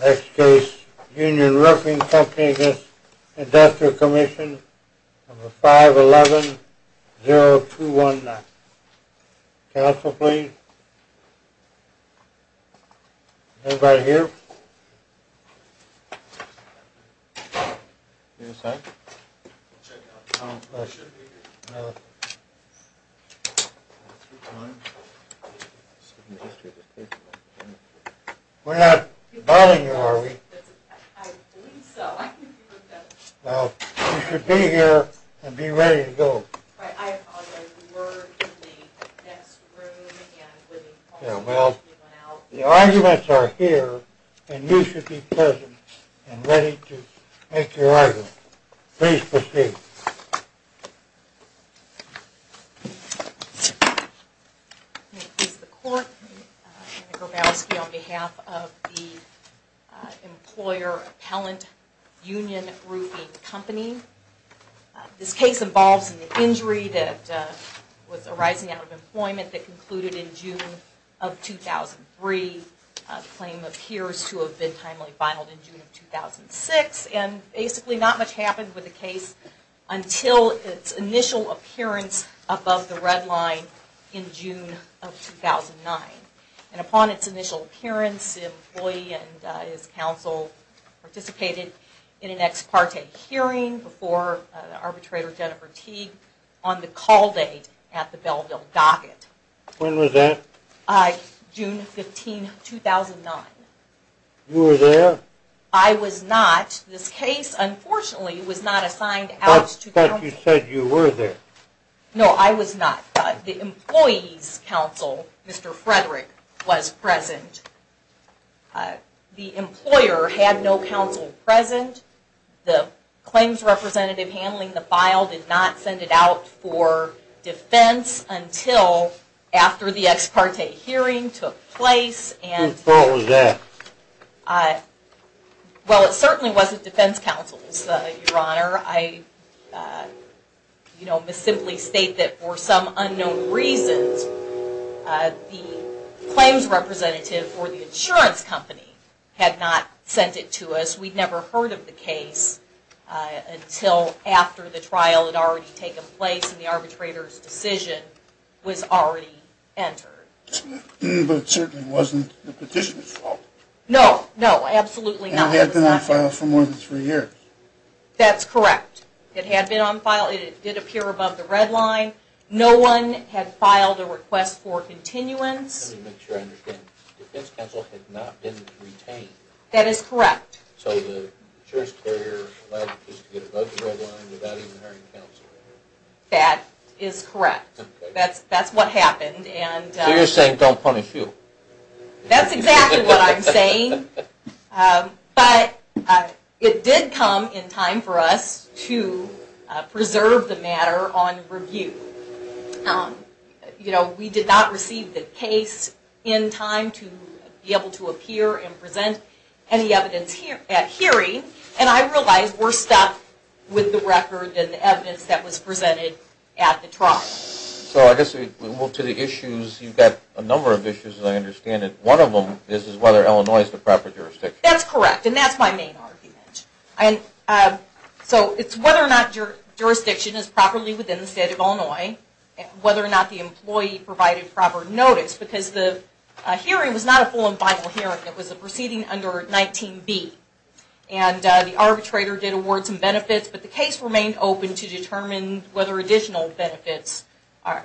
Next case, Union Roofing Comp'n v. Industrial Comm'n, 511-0219. Counsel, please. Anybody here? We're not bothering you, are we? Well, you should be here and be ready to go. I apologize, we were in the next room and we went out. Well, the arguments are here and you should be present and ready to make your argument. Please proceed. May it please the Court, Anna Grabowski on behalf of the Employer Appellant Union Roofing Company. This case involves an injury that was arising out of employment that concluded in June of 2003. The claim appears to have been timely finaled in June of 2006 and basically not much happened with the case until its initial appearance above the red line in June of 2009. And upon its initial appearance, the employee and his counsel participated in an ex parte hearing before Arbitrator Jennifer Teague on the call date at the Belleville Docket. When was that? June 15, 2009. You were there? I was not. This case, unfortunately, was not assigned out to counsel. But you said you were there. No, I was not. The employee's counsel, Mr. Frederick, was present. The employer had no counsel present. The claims representative handling the file did not send it out for defense until after the ex parte hearing took place. Whose fault was that? Well, it certainly wasn't defense counsel's, Your Honor. I, you know, simply state that for some unknown reasons, the claims representative for the insurance company had not sent it to us. We'd never heard of the case until after the trial had already taken place and the arbitrator's decision was already entered. But it certainly wasn't the petitioner's fault. No, no, absolutely not. And it had been on file for more than three years. That's correct. It had been on file. It did appear above the red line. No one had filed a request for continuance. Let me make sure I understand. Defense counsel had not been retained. That is correct. So the insurance carrier allowed the case to get above the red line without even hiring counsel. That is correct. That's what happened. So you're saying don't punish you. That's exactly what I'm saying. But it did come in time for us to preserve the matter on review. You know, we did not receive the case in time to be able to appear and present any evidence at hearing. And I realize we're stuck with the record and the evidence that was presented at the trial. So I guess we move to the issues. You've got a number of issues, as I understand it. One of them is whether Illinois is the proper jurisdiction. That's correct. And that's my main argument. So it's whether or not jurisdiction is properly within the state of Illinois, whether or not the employee provided proper notice. Because the hearing was not a full and final hearing. It was a proceeding under 19B. And the arbitrator did award some benefits, but the case remained open to determine whether additional benefits are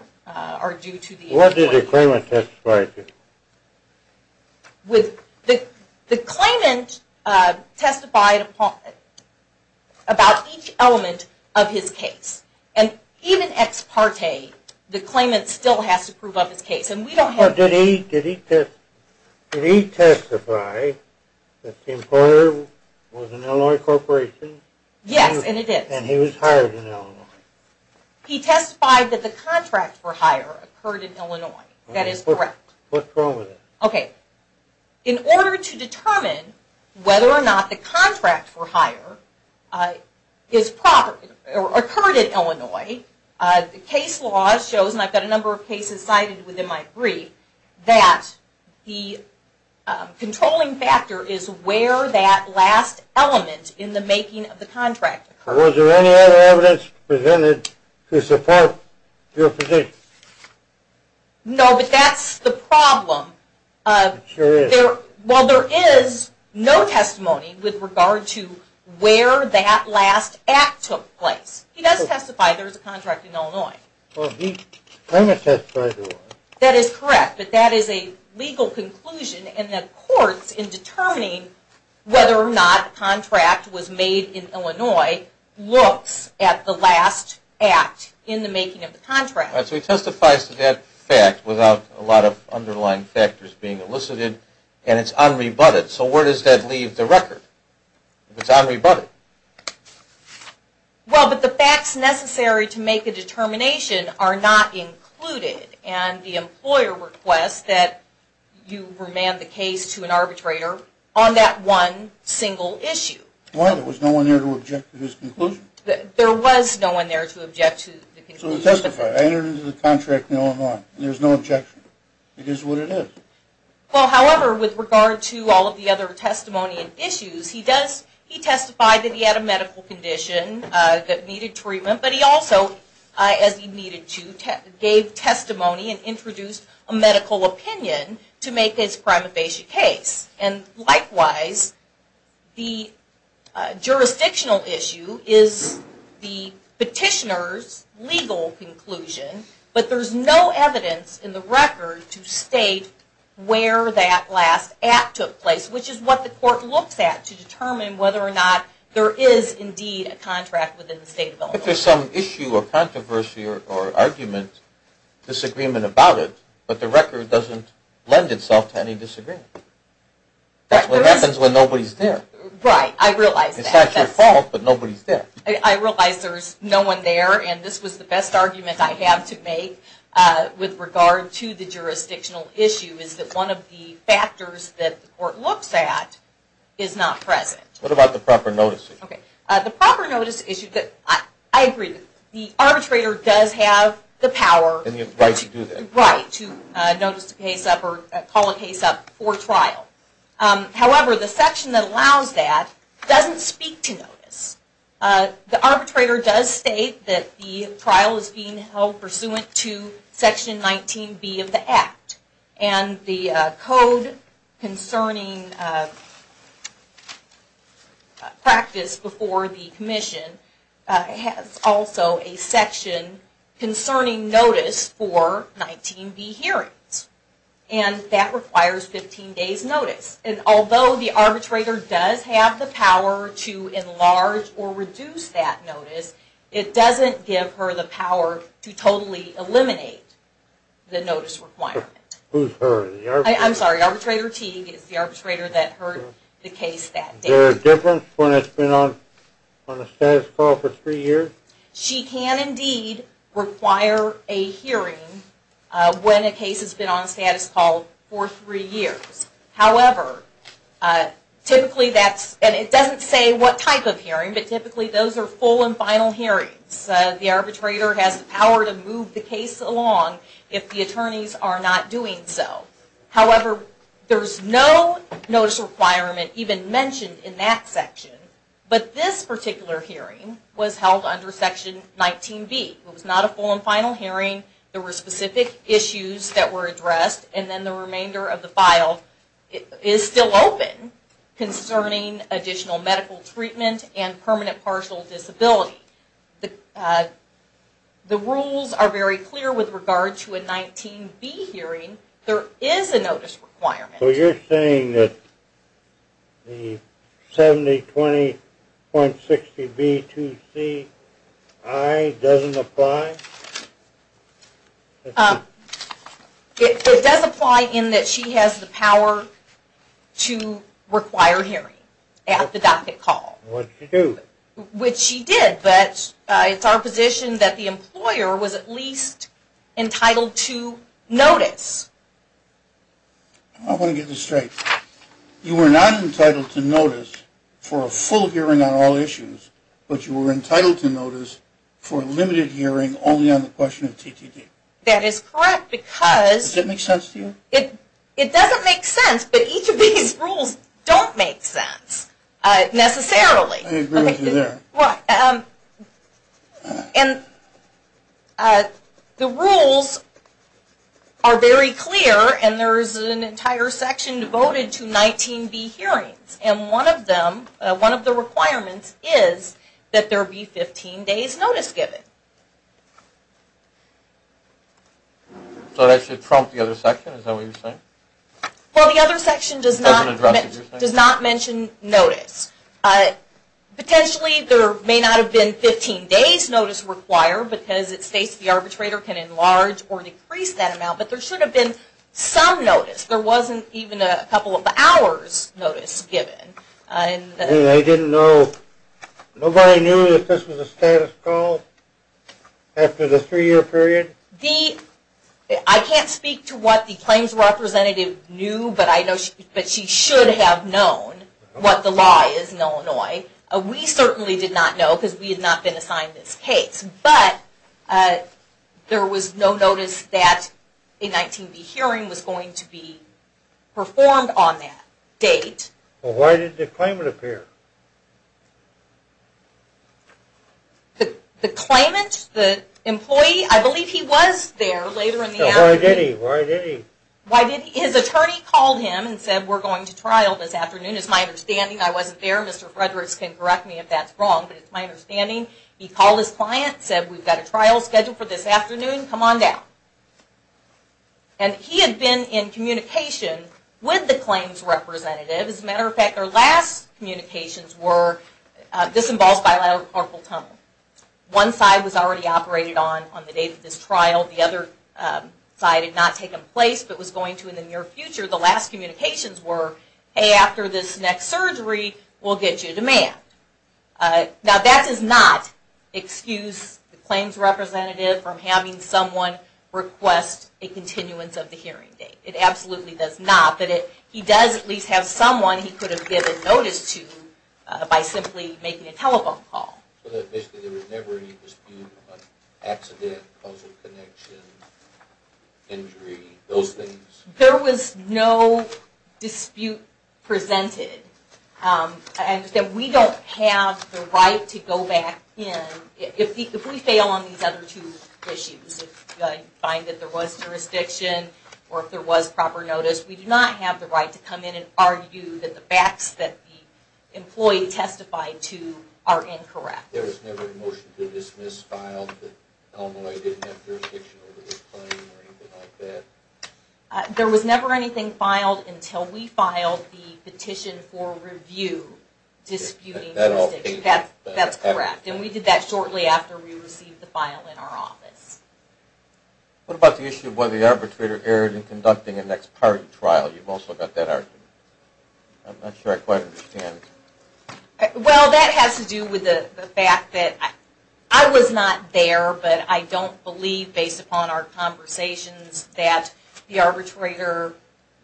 due to the employee. What did the claimant testify to? The claimant testified about each element of his case. And even ex parte, the claimant still has to prove of his case. Did he testify that the employer was an Illinois corporation? Yes, and it is. And he was hired in Illinois. He testified that the contract for hire occurred in Illinois. That is correct. What's wrong with that? Okay. In order to determine whether or not the contract for hire occurred in Illinois, the case law shows, and I've got a number of cases cited within my brief, that the controlling factor is where that last element in the making of the contract occurred. Was there any other evidence presented to support your position? No, but that's the problem. It sure is. Well, there is no testimony with regard to where that last act took place. He does testify there was a contract in Illinois. Well, he, I must testify to that. That is correct, but that is a legal conclusion, and the courts in determining whether or not a contract was made in Illinois looks at the last act in the making of the contract. So he testifies to that fact without a lot of underlying factors being elicited, and it's unrebutted. So where does that leave the record, if it's unrebutted? Well, but the facts necessary to make a determination are not included, and the employer requests that you remand the case to an arbitrator on that one single issue. Well, there was no one there to object to his conclusion. There was no one there to object to the conclusion. So to testify, I entered into the contract in Illinois, and there's no objection. It is what it is. Well, however, with regard to all of the other testimony and issues, he testified that he had a medical condition that needed treatment, but he also, as he needed to, gave testimony and introduced a medical opinion to make his prima facie case. And likewise, the jurisdictional issue is the petitioner's legal conclusion, but there's no evidence in the record to state where that last act took place, which is what the court looks at to determine whether or not there is indeed a contract within the state of Illinois. If there's some issue or controversy or argument, disagreement about it, but the record doesn't lend itself to any disagreement. That's what happens when nobody's there. Right, I realize that. It's not your fault, but nobody's there. I realize there's no one there, and this was the best argument I have to make with regard to the jurisdictional issue, is that one of the factors that the court looks at is not present. What about the proper notice issue? The proper notice issue, I agree, the arbitrator does have the power. And the right to do that. Right, to call a case up for trial. However, the section that allows that doesn't speak to notice. The arbitrator does state that the trial is being held pursuant to Section 19B of the Act, and the code concerning practice before the commission has also a section concerning notice for 19B hearings. And that requires 15 days notice. And although the arbitrator does have the power to enlarge or reduce that notice, it doesn't give her the power to totally eliminate the notice requirement. Who's her? I'm sorry, arbitrator Teague is the arbitrator that heard the case that day. Is there a difference when it's been on a status call for three years? She can indeed require a hearing when a case has been on a status call for three years. However, typically that's, and it doesn't say what type of hearing, but typically those are full and final hearings. The arbitrator has the power to move the case along if the attorneys are not doing so. However, there's no notice requirement even mentioned in that section. But this particular hearing was held under Section 19B. It was not a full and final hearing. There were specific issues that were addressed. And then the remainder of the file is still open concerning additional medical treatment and permanent partial disability. The rules are very clear with regard to a 19B hearing. There is a notice requirement. So you're saying that the 7020.60B2CI doesn't apply? It does apply in that she has the power to require hearing at the docket call. Which she did, but it's our position that the employer was at least entitled to notice. I want to get this straight. You were not entitled to notice for a full hearing on all issues, but you were entitled to notice for a limited hearing only on the question of TTT? That is correct. Does that make sense to you? It doesn't make sense, but each of these rules don't make sense necessarily. I agree with you there. The rules are very clear, and there is an entire section devoted to 19B hearings. And one of the requirements is that there be 15 days notice given. So that should prompt the other section, is that what you're saying? Well, the other section does not mention notice. Potentially there may not have been 15 days notice required because it states the arbitrator can enlarge or decrease that amount, but there should have been some notice. There wasn't even a couple of hours notice given. Nobody knew that this was a status call after the three-year period? I can't speak to what the claims representative knew, but she should have known what the law is in Illinois. We certainly did not know because we had not been assigned this case. But there was no notice that a 19B hearing was going to be performed on that date. Why did the claimant appear? The claimant, the employee, I believe he was there later in the afternoon. Why did he? His attorney called him and said we're going to trial this afternoon. It's my understanding I wasn't there. Mr. Frederick can correct me if that's wrong, but it's my understanding. He called his client and said we've got a trial scheduled for this afternoon. Come on down. And he had been in communication with the claims representative. As a matter of fact, their last communications were, this involves bilateral carpal tunnel. One side was already operated on on the date of this trial. The other side had not taken place but was going to in the near future. The last communications were, hey, after this next surgery we'll get you a demand. Now that does not excuse the claims representative from having someone request a continuance of the hearing date. It absolutely does not. But he does at least have someone he could have given notice to by simply making a telephone call. So basically there was never any dispute about accident, causal connection, injury, those things? There was no dispute presented. I understand we don't have the right to go back in. If we fail on these other two issues, if you find that there was jurisdiction or if there was proper notice, we do not have the right to come in and argue that the facts that the employee testified to are incorrect. There was never a motion to dismiss filed that Elmolay didn't have jurisdiction over this claim or anything like that? There was never anything filed until we filed the petition for review disputing that. That's correct. And we did that shortly after we received the file in our office. What about the issue of whether the arbitrator erred in conducting a next party trial? You've also got that argument. I'm not sure I quite understand. Well, that has to do with the fact that I was not there, but I don't believe based upon our conversations that the arbitrator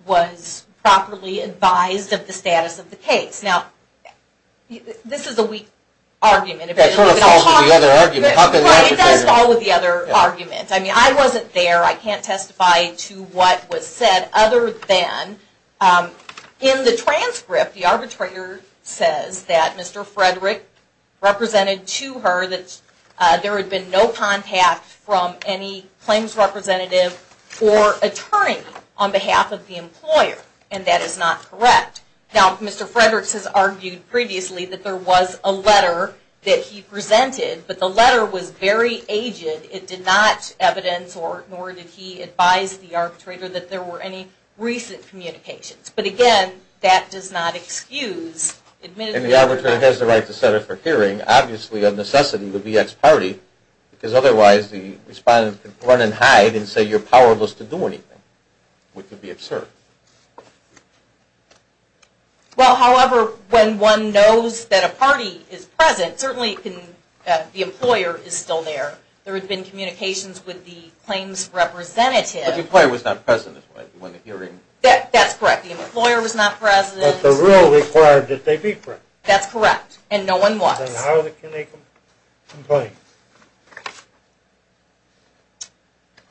was properly advised of the status of the case. Now, this is a weak argument. It sort of falls with the other argument. Well, it does fall with the other argument. I mean, I wasn't there. I can't testify to what was said other than in the transcript, the arbitrator says that Mr. Frederick represented to her that there had been no contact from any claims representative or attorney on behalf of the employer. And that is not correct. Now, Mr. Frederick has argued previously that there was a letter that he presented, but the letter was very aged. It did not evidence, nor did he advise the arbitrator that there were any recent communications. But, again, that does not excuse. And the arbitrator has the right to set up for hearing, obviously, of necessity, the VX party, because otherwise the respondent could run and hide and say you're powerless to do anything, which would be absurd. Well, however, when one knows that a party is present, certainly the employer is still there. There had been communications with the claims representative. But the employer was not present when the hearing. That's correct. The employer was not present. But the rule required that they be present. That's correct. And no one was. Then how can they complain?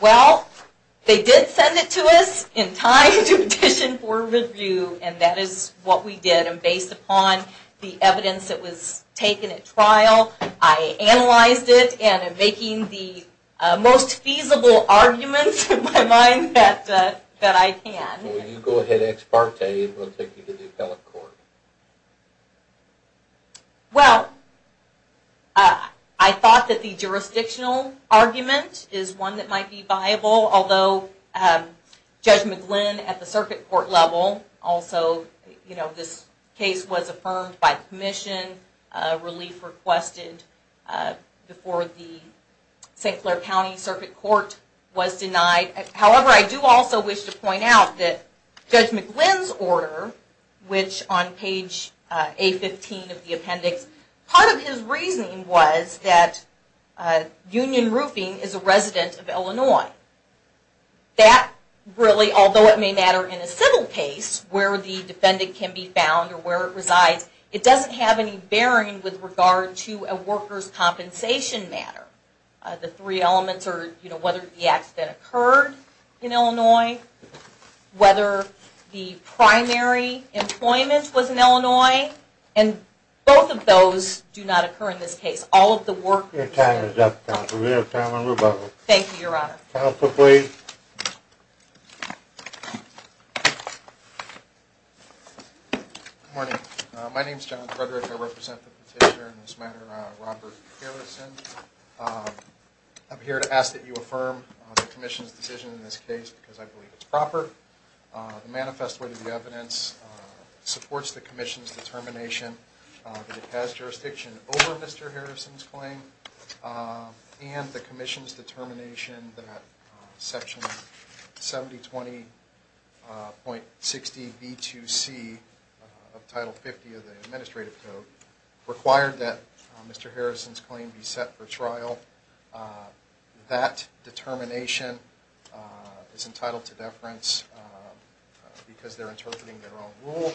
Well, they did send it to us in time to petition for review, and that is what we did. And based upon the evidence that was taken at trial, I analyzed it, and I'm making the most feasible arguments in my mind that I can. Well, you go ahead ex parte, and we'll take you to the appellate court. Well, I thought that the jurisdictional argument is one that might be viable, although Judge McGlynn at the circuit court level also, you know, this case was affirmed by commission, relief requested before the St. Clair County Circuit Court was denied. However, I do also wish to point out that Judge McGlynn's order, which on page A15 of the appendix, part of his reasoning was that Union Roofing is a resident of Illinois. That really, although it may matter in a civil case where the defendant can be found or where it resides, it doesn't have any bearing with regard to a worker's compensation matter. The three elements are, you know, whether the accident occurred in Illinois, whether the primary employment was in Illinois, and both of those do not occur in this case. All of the workers... Your time is up, counsel. We have time on rebuttal. Thank you, Your Honor. Counsel, please. Good morning. My name is John Frederick. I represent the petitioner in this matter, Robert Harrison. I'm here to ask that you affirm the commission's decision in this case because I believe it's proper. The manifest way to the evidence supports the commission's determination that it has jurisdiction over Mr. Harrison's claim and the commission's determination that Section 7020.60b2c of Title 50 of the Administrative Code required that Mr. Harrison's claim be set for trial. That determination is entitled to deference because they're interpreting their own rule.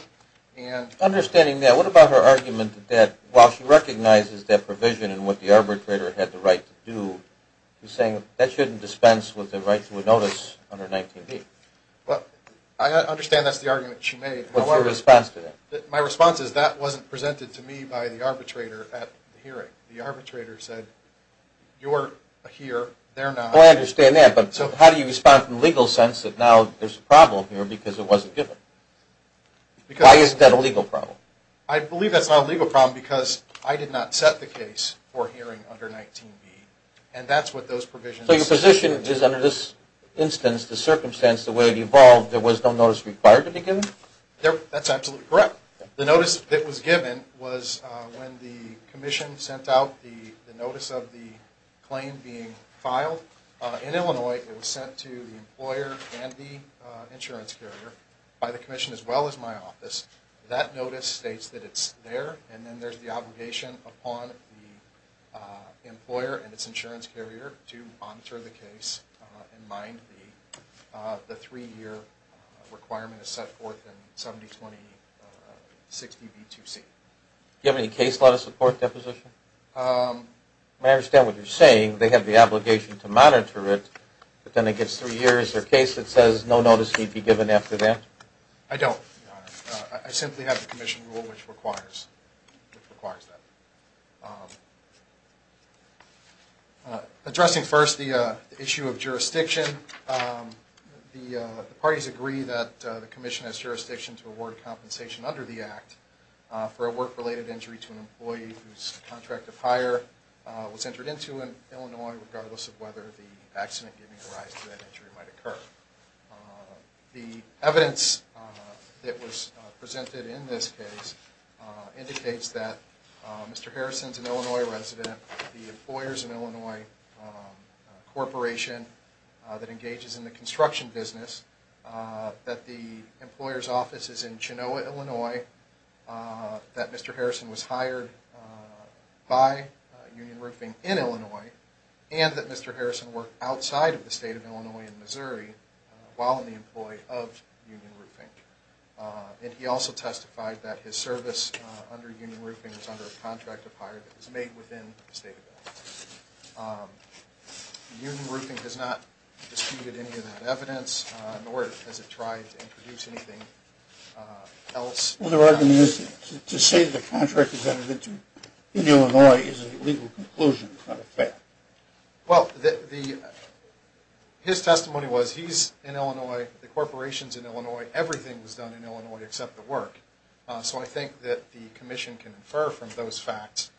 Understanding that, what about her argument that while she recognizes that provision and what the arbitrator had the right to do, she's saying that shouldn't dispense with the right to a notice under 19b? I understand that's the argument she made. What's your response to that? My response is that wasn't presented to me by the arbitrator at the hearing. The arbitrator said, you're here, they're not. I understand that, but how do you respond from the legal sense that now there's a problem here because it wasn't given? Why is that a legal problem? I believe that's not a legal problem because I did not set the case for hearing under 19b. So your position is under this instance, the circumstance, the way it evolved, there was no notice required to be given? That's absolutely correct. The notice that was given was when the commission sent out the notice of the claim being filed. In Illinois, it was sent to the employer and the insurance carrier by the commission as well as my office. That notice states that it's there, and then there's the obligation upon the employer and its insurance carrier to monitor the case, and mind me, the three-year requirement is set forth in 702060b2c. Do you have any case law to support that position? I understand what you're saying. They have the obligation to monitor it, but then it gets three years. Their case, it says no notice need be given after that? I don't, Your Honor. I simply have the commission rule which requires that. Addressing first the issue of jurisdiction, the parties agree that the commission has jurisdiction to award compensation under the Act for a work-related injury to an employee whose contract of hire was entered into in Illinois, regardless of whether the accident giving rise to that injury might occur. The evidence that was presented in this case indicates that Mr. Harrison's an Illinois resident, the Employers in Illinois Corporation that engages in the construction business, that the employer's office is in Chenoa, Illinois, that Mr. Harrison was hired by Union Roofing in Illinois, and that Mr. Harrison worked outside of the state of Illinois in Missouri while an employee of Union Roofing. And he also testified that his service under Union Roofing was under a contract of hire that was made within the state of Illinois. Union Roofing has not disputed any of that evidence, nor has it tried to introduce anything else. To say the contract was entered into in Illinois is a legal conclusion, not a fact. Well, his testimony was he's in Illinois, the corporation's in Illinois, everything was done in Illinois except the work. So I think that the commission can infer from those facts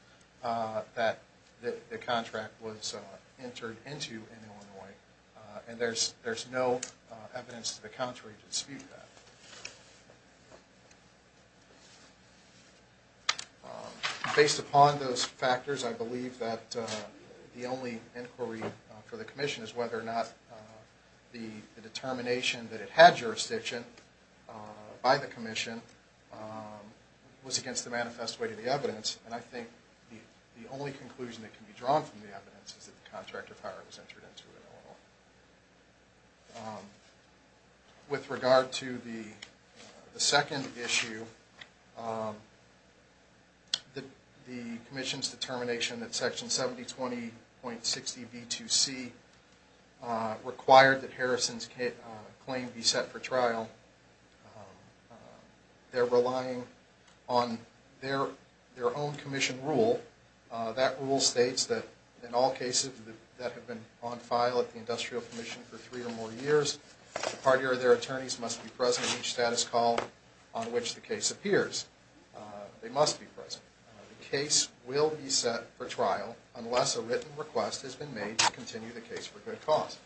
that the contract was entered into in Illinois, and there's no evidence to the contrary to dispute that. Based upon those factors, I believe that the only inquiry for the commission is whether or not the determination that it had jurisdiction by the commission was against the manifest way to the evidence, and I think the only conclusion that can be drawn from the evidence is that the contract of hire was entered into in Illinois. With regard to the second issue, the commission's determination that Section 7020.60b2c required that Harrison's claim be set for trial, they're relying on their own commission rule. That rule states that in all cases that have been on file at the industrial commission for three or more years, the party or their attorneys must be present at each status call on which the case appears. They must be present. The case will be set for trial unless a written request has been made to continue the case for good cause.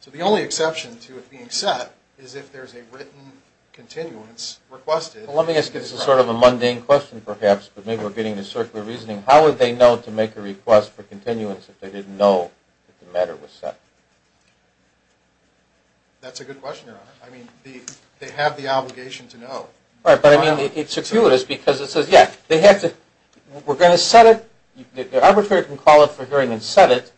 So the only exception to it being set is if there's a written continuance requested. Let me ask you this sort of a mundane question perhaps, but maybe we're getting a circular reasoning. How would they know to make a request for continuance if they didn't know that the matter was set? That's a good question, Your Honor. I mean, they have the obligation to know. Right, but I mean, it's obscuritous because it says, yeah, we're going to set it. The arbitrator can call it for hearing and set it,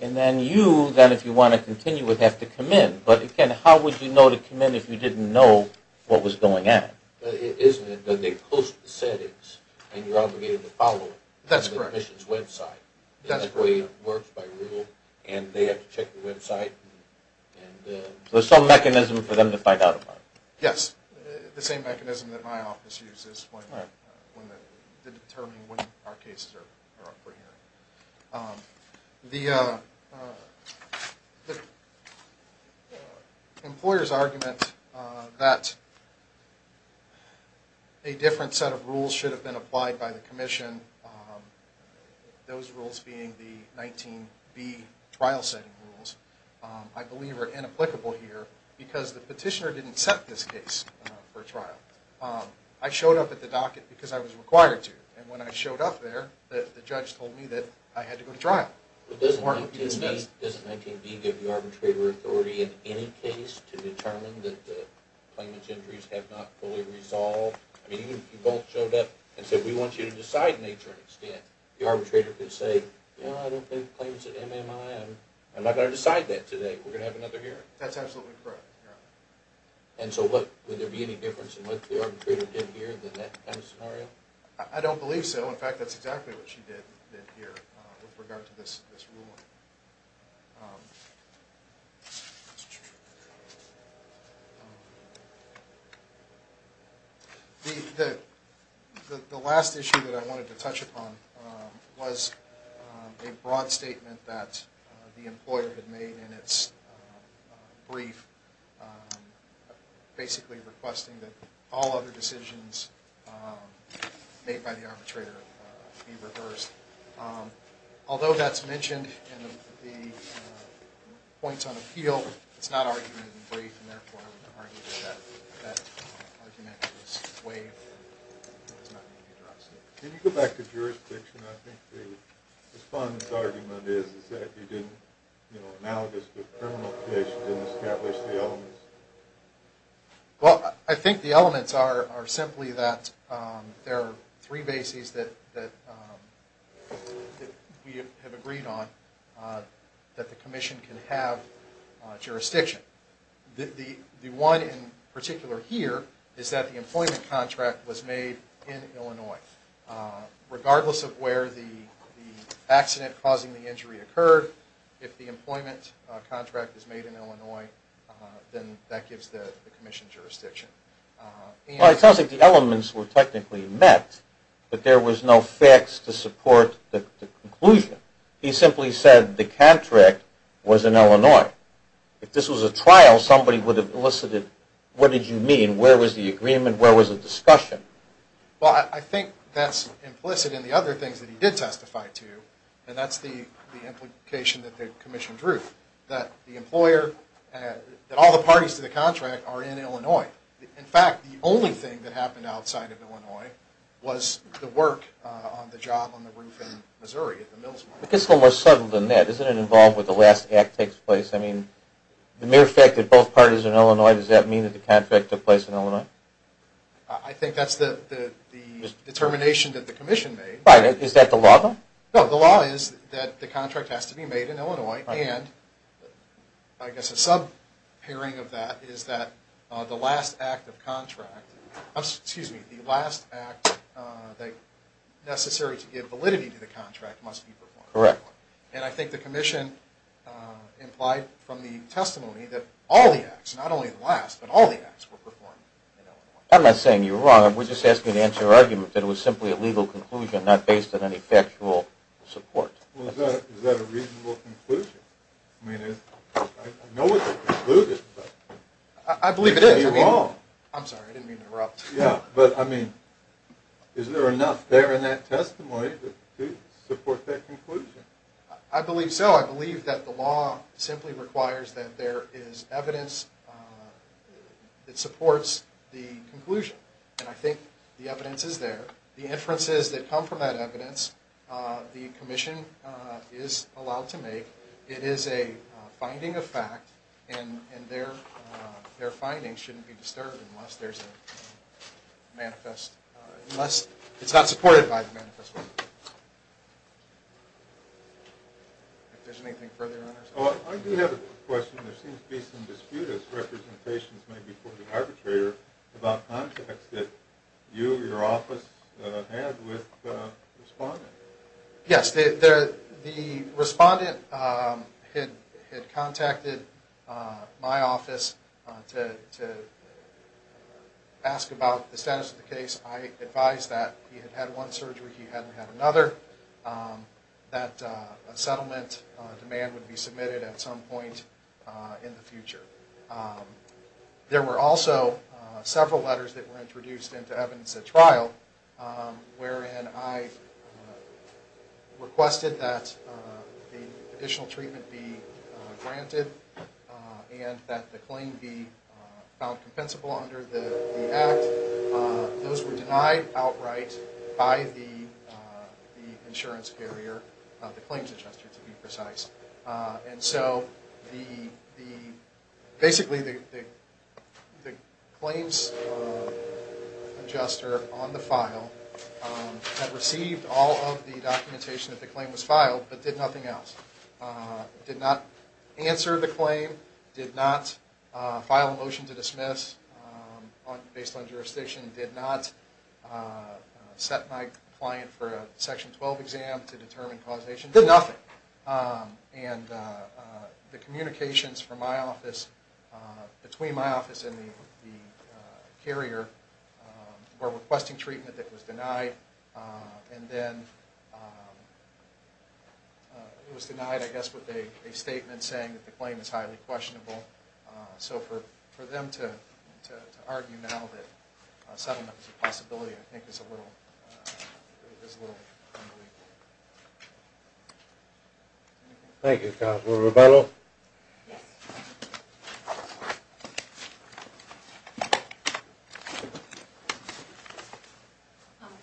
and then you, then, if you want to continue, would have to come in. But, again, how would you know to come in if you didn't know what was going on? Isn't it that they post the settings and you're obligated to follow it? That's correct. On the commission's website. That's correct. That's the way it works by rule, and they have to check the website. So there's some mechanism for them to find out about it. Yes, the same mechanism that my office uses to determine when our cases are up for hearing. The employer's argument that a different set of rules should have been applied by the commission, those rules being the 19B trial setting rules, I believe are inapplicable here because the petitioner didn't set this case for trial. I showed up at the docket because I was required to, and when I showed up there, the judge told me that I had to go to trial. But doesn't 19B give the arbitrator authority in any case to determine that the claimant's injuries have not fully resolved? I mean, even if you both showed up and said, we want you to decide nature and extent, the arbitrator could say, you know, I don't think claims at MMI, I'm not going to decide that today. We're going to have another hearing. That's absolutely correct, yeah. And so would there be any difference in what the arbitrator did here in that kind of scenario? I don't believe so. In fact, that's exactly what she did here with regard to this ruling. The last issue that I wanted to touch upon was a broad statement that the employer had made in its brief, basically requesting that all other decisions made by the arbitrator be reversed. Although that's mentioned in the points on appeal, it's not argumented in the brief, and therefore I wouldn't argue that that argument was waived. Can you go back to jurisdiction? I think the respondent's argument is that you didn't, you know, analogous to the criminal case, you didn't establish the elements. Well, I think the elements are simply that there are three bases that we have agreed on, that the commission can have jurisdiction. The one in particular here is that the employment contract was made in Illinois. Regardless of where the accident causing the injury occurred, if the employment contract is made in Illinois, then that gives the commission jurisdiction. Well, it sounds like the elements were technically met, but there was no facts to support the conclusion. He simply said the contract was in Illinois. If this was a trial, somebody would have elicited what did you mean, where was the agreement, where was the discussion. Well, I think that's implicit in the other things that he did testify to, and that's the implication that the commission drew, that the employer, that all the parties to the contract are in Illinois. In fact, the only thing that happened outside of Illinois was the work on the job on the roof in Missouri. It's a little more subtle than that. Isn't it involved with the last act that takes place? I mean, the mere fact that both parties are in Illinois, does that mean that the contract took place in Illinois? I think that's the determination that the commission made. Is that the law, though? No, the law is that the contract has to be made in Illinois, and I guess a sub-pairing of that is that the last act of contract, excuse me, the last act necessary to give validity to the contract must be performed in Illinois. Correct. And I think the commission implied from the testimony that all the acts, not only the last, but all the acts were performed in Illinois. I'm not saying you're wrong. We're just asking to answer your argument that it was simply a legal conclusion, not based on any factual support. Well, is that a reasonable conclusion? I mean, I know it's a conclusion. I believe it is. You're wrong. I'm sorry, I didn't mean to interrupt. Yeah, but, I mean, is there enough there in that testimony to support that conclusion? I believe so. I believe that the law simply requires that there is evidence that supports the conclusion, and I think the evidence is there. The inferences that come from that evidence, the commission is allowed to make. It is a finding of fact, and their findings shouldn't be disturbed unless there's a manifest, unless it's not supported by the manifest. If there's anything further on that. I do have a question. There seems to be some dispute, as representations may be put to the arbitrator, about contacts that you or your office had with the respondent. Yes, the respondent had contacted my office to ask about the status of the case. I advised that he had had one surgery, he hadn't had another, that a settlement demand would be submitted at some point in the future. There were also several letters that were introduced into evidence at trial, wherein I requested that the additional treatment be granted, and that the claim be found compensable under the act. Those were denied outright by the insurance carrier, the claims adjuster to be precise. Basically, the claims adjuster on the file had received all of the documentation that the claim was filed, but did nothing else. Did not answer the claim, did not file a motion to dismiss based on jurisdiction, did not set my client for a Section 12 exam to determine causation, did nothing. The communications from my office, between my office and the carrier, were requesting treatment that was denied, and then it was denied, I guess, with a statement saying that the claim is highly questionable. So for them to argue now that a settlement is a possibility, I think, is a little unbelievable. Thank you, Counselor Rubello.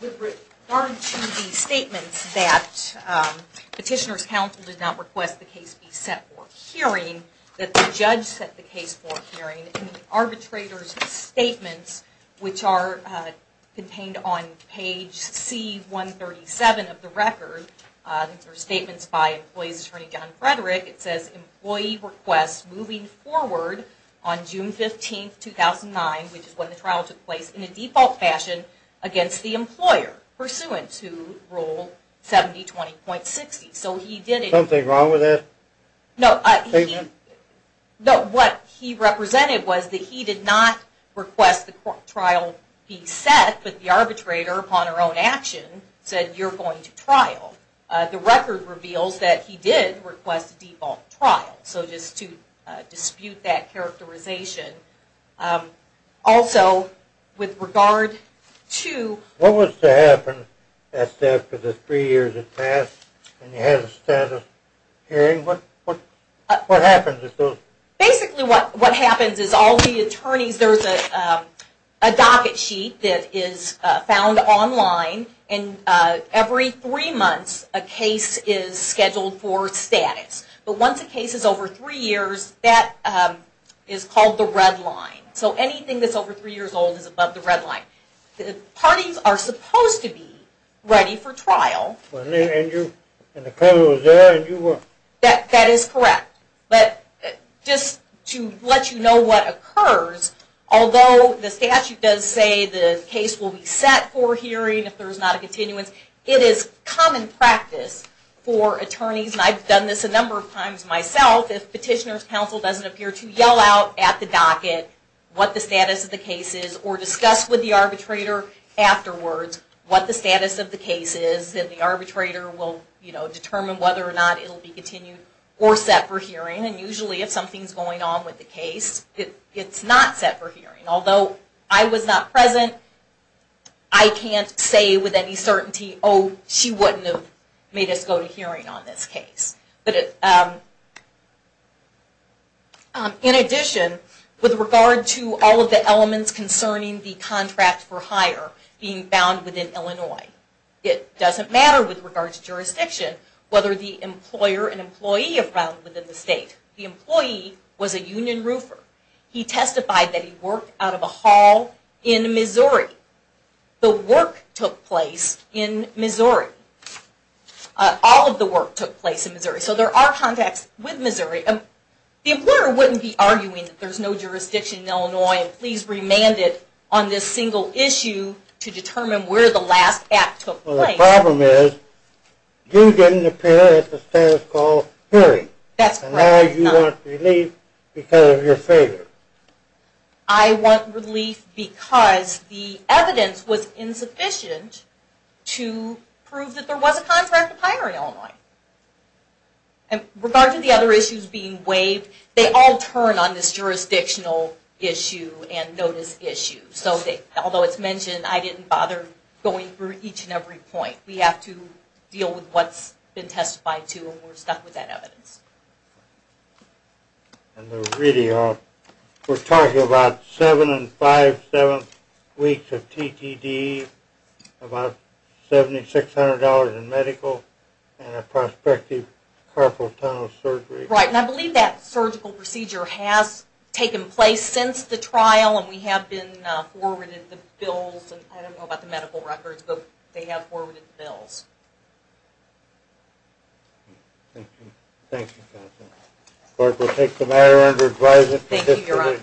With regard to the statements that Petitioner's Counsel did not request the case be set for hearing, that the judge set the case for hearing, and the arbitrator's statements, which are contained on page C-137 of the record, these are statements by Employee's Attorney John Frederick. It says, Employee requests moving forward on June 15, 2009, which is when the trial took place in a default fashion, against the employer pursuant to Rule 70-20.60. Something wrong with that statement? No, what he represented was that he did not request the trial be set, but the arbitrator, upon her own action, said you're going to trial. The record reveals that he did request a default trial. So just to dispute that characterization. Also, with regard to... What was to happen after the three years had passed and you had a status hearing? What happens? Basically what happens is all the attorneys, there's a docket sheet that is found online, and every three months a case is scheduled for status. But once a case is over three years, that is called the red line. So anything that's over three years old is above the red line. Parties are supposed to be ready for trial. And the counsel is there and you will... That is correct. But just to let you know what occurs, although the statute does say the case will be set for hearing if there is not a continuance, it is common practice for attorneys, and I've done this a number of times myself, if Petitioner's Counsel doesn't appear to yell out at the docket what the status of the case is, or discuss with the arbitrator afterwards what the status of the case is, then the arbitrator will determine whether or not it will be continued or set for hearing. And usually if something's going on with the case, it's not set for hearing. Although I was not present, I can't say with any certainty, oh, she wouldn't have made us go to hearing on this case. In addition, with regard to all of the elements concerning the contract for hire being found within Illinois, it doesn't matter with regard to jurisdiction whether the employer and employee are found within the state. The employee was a union roofer. He testified that he worked out of a hall in Missouri. The work took place in Missouri. All of the work took place in Missouri. So there are contacts with Missouri. The employer wouldn't be arguing that there's no jurisdiction in Illinois and please remand it on this single issue to determine where the last act took place. Well, the problem is you didn't appear at the status called hearing. That's correct. And now you want relief because of your failure. I want relief because the evidence was insufficient to prove that there was a contract to hire in Illinois. And with regard to the other issues being waived, they all turn on this jurisdictional issue and notice issue. Although it's mentioned, I didn't bother going through each and every point. We have to deal with what's been testified to and we're stuck with that evidence. We're talking about seven and five-seventh weeks of TTD, about $7,600 in medical and a prospective carpal tunnel surgery. Right, and I believe that surgical procedure has taken place since the trial and we have forwarded the bills. I don't know about the medical records, but they have forwarded the bills. Thank you. Thank you, counsel. The court will take the matter under advisory. Thank you, Your Honor.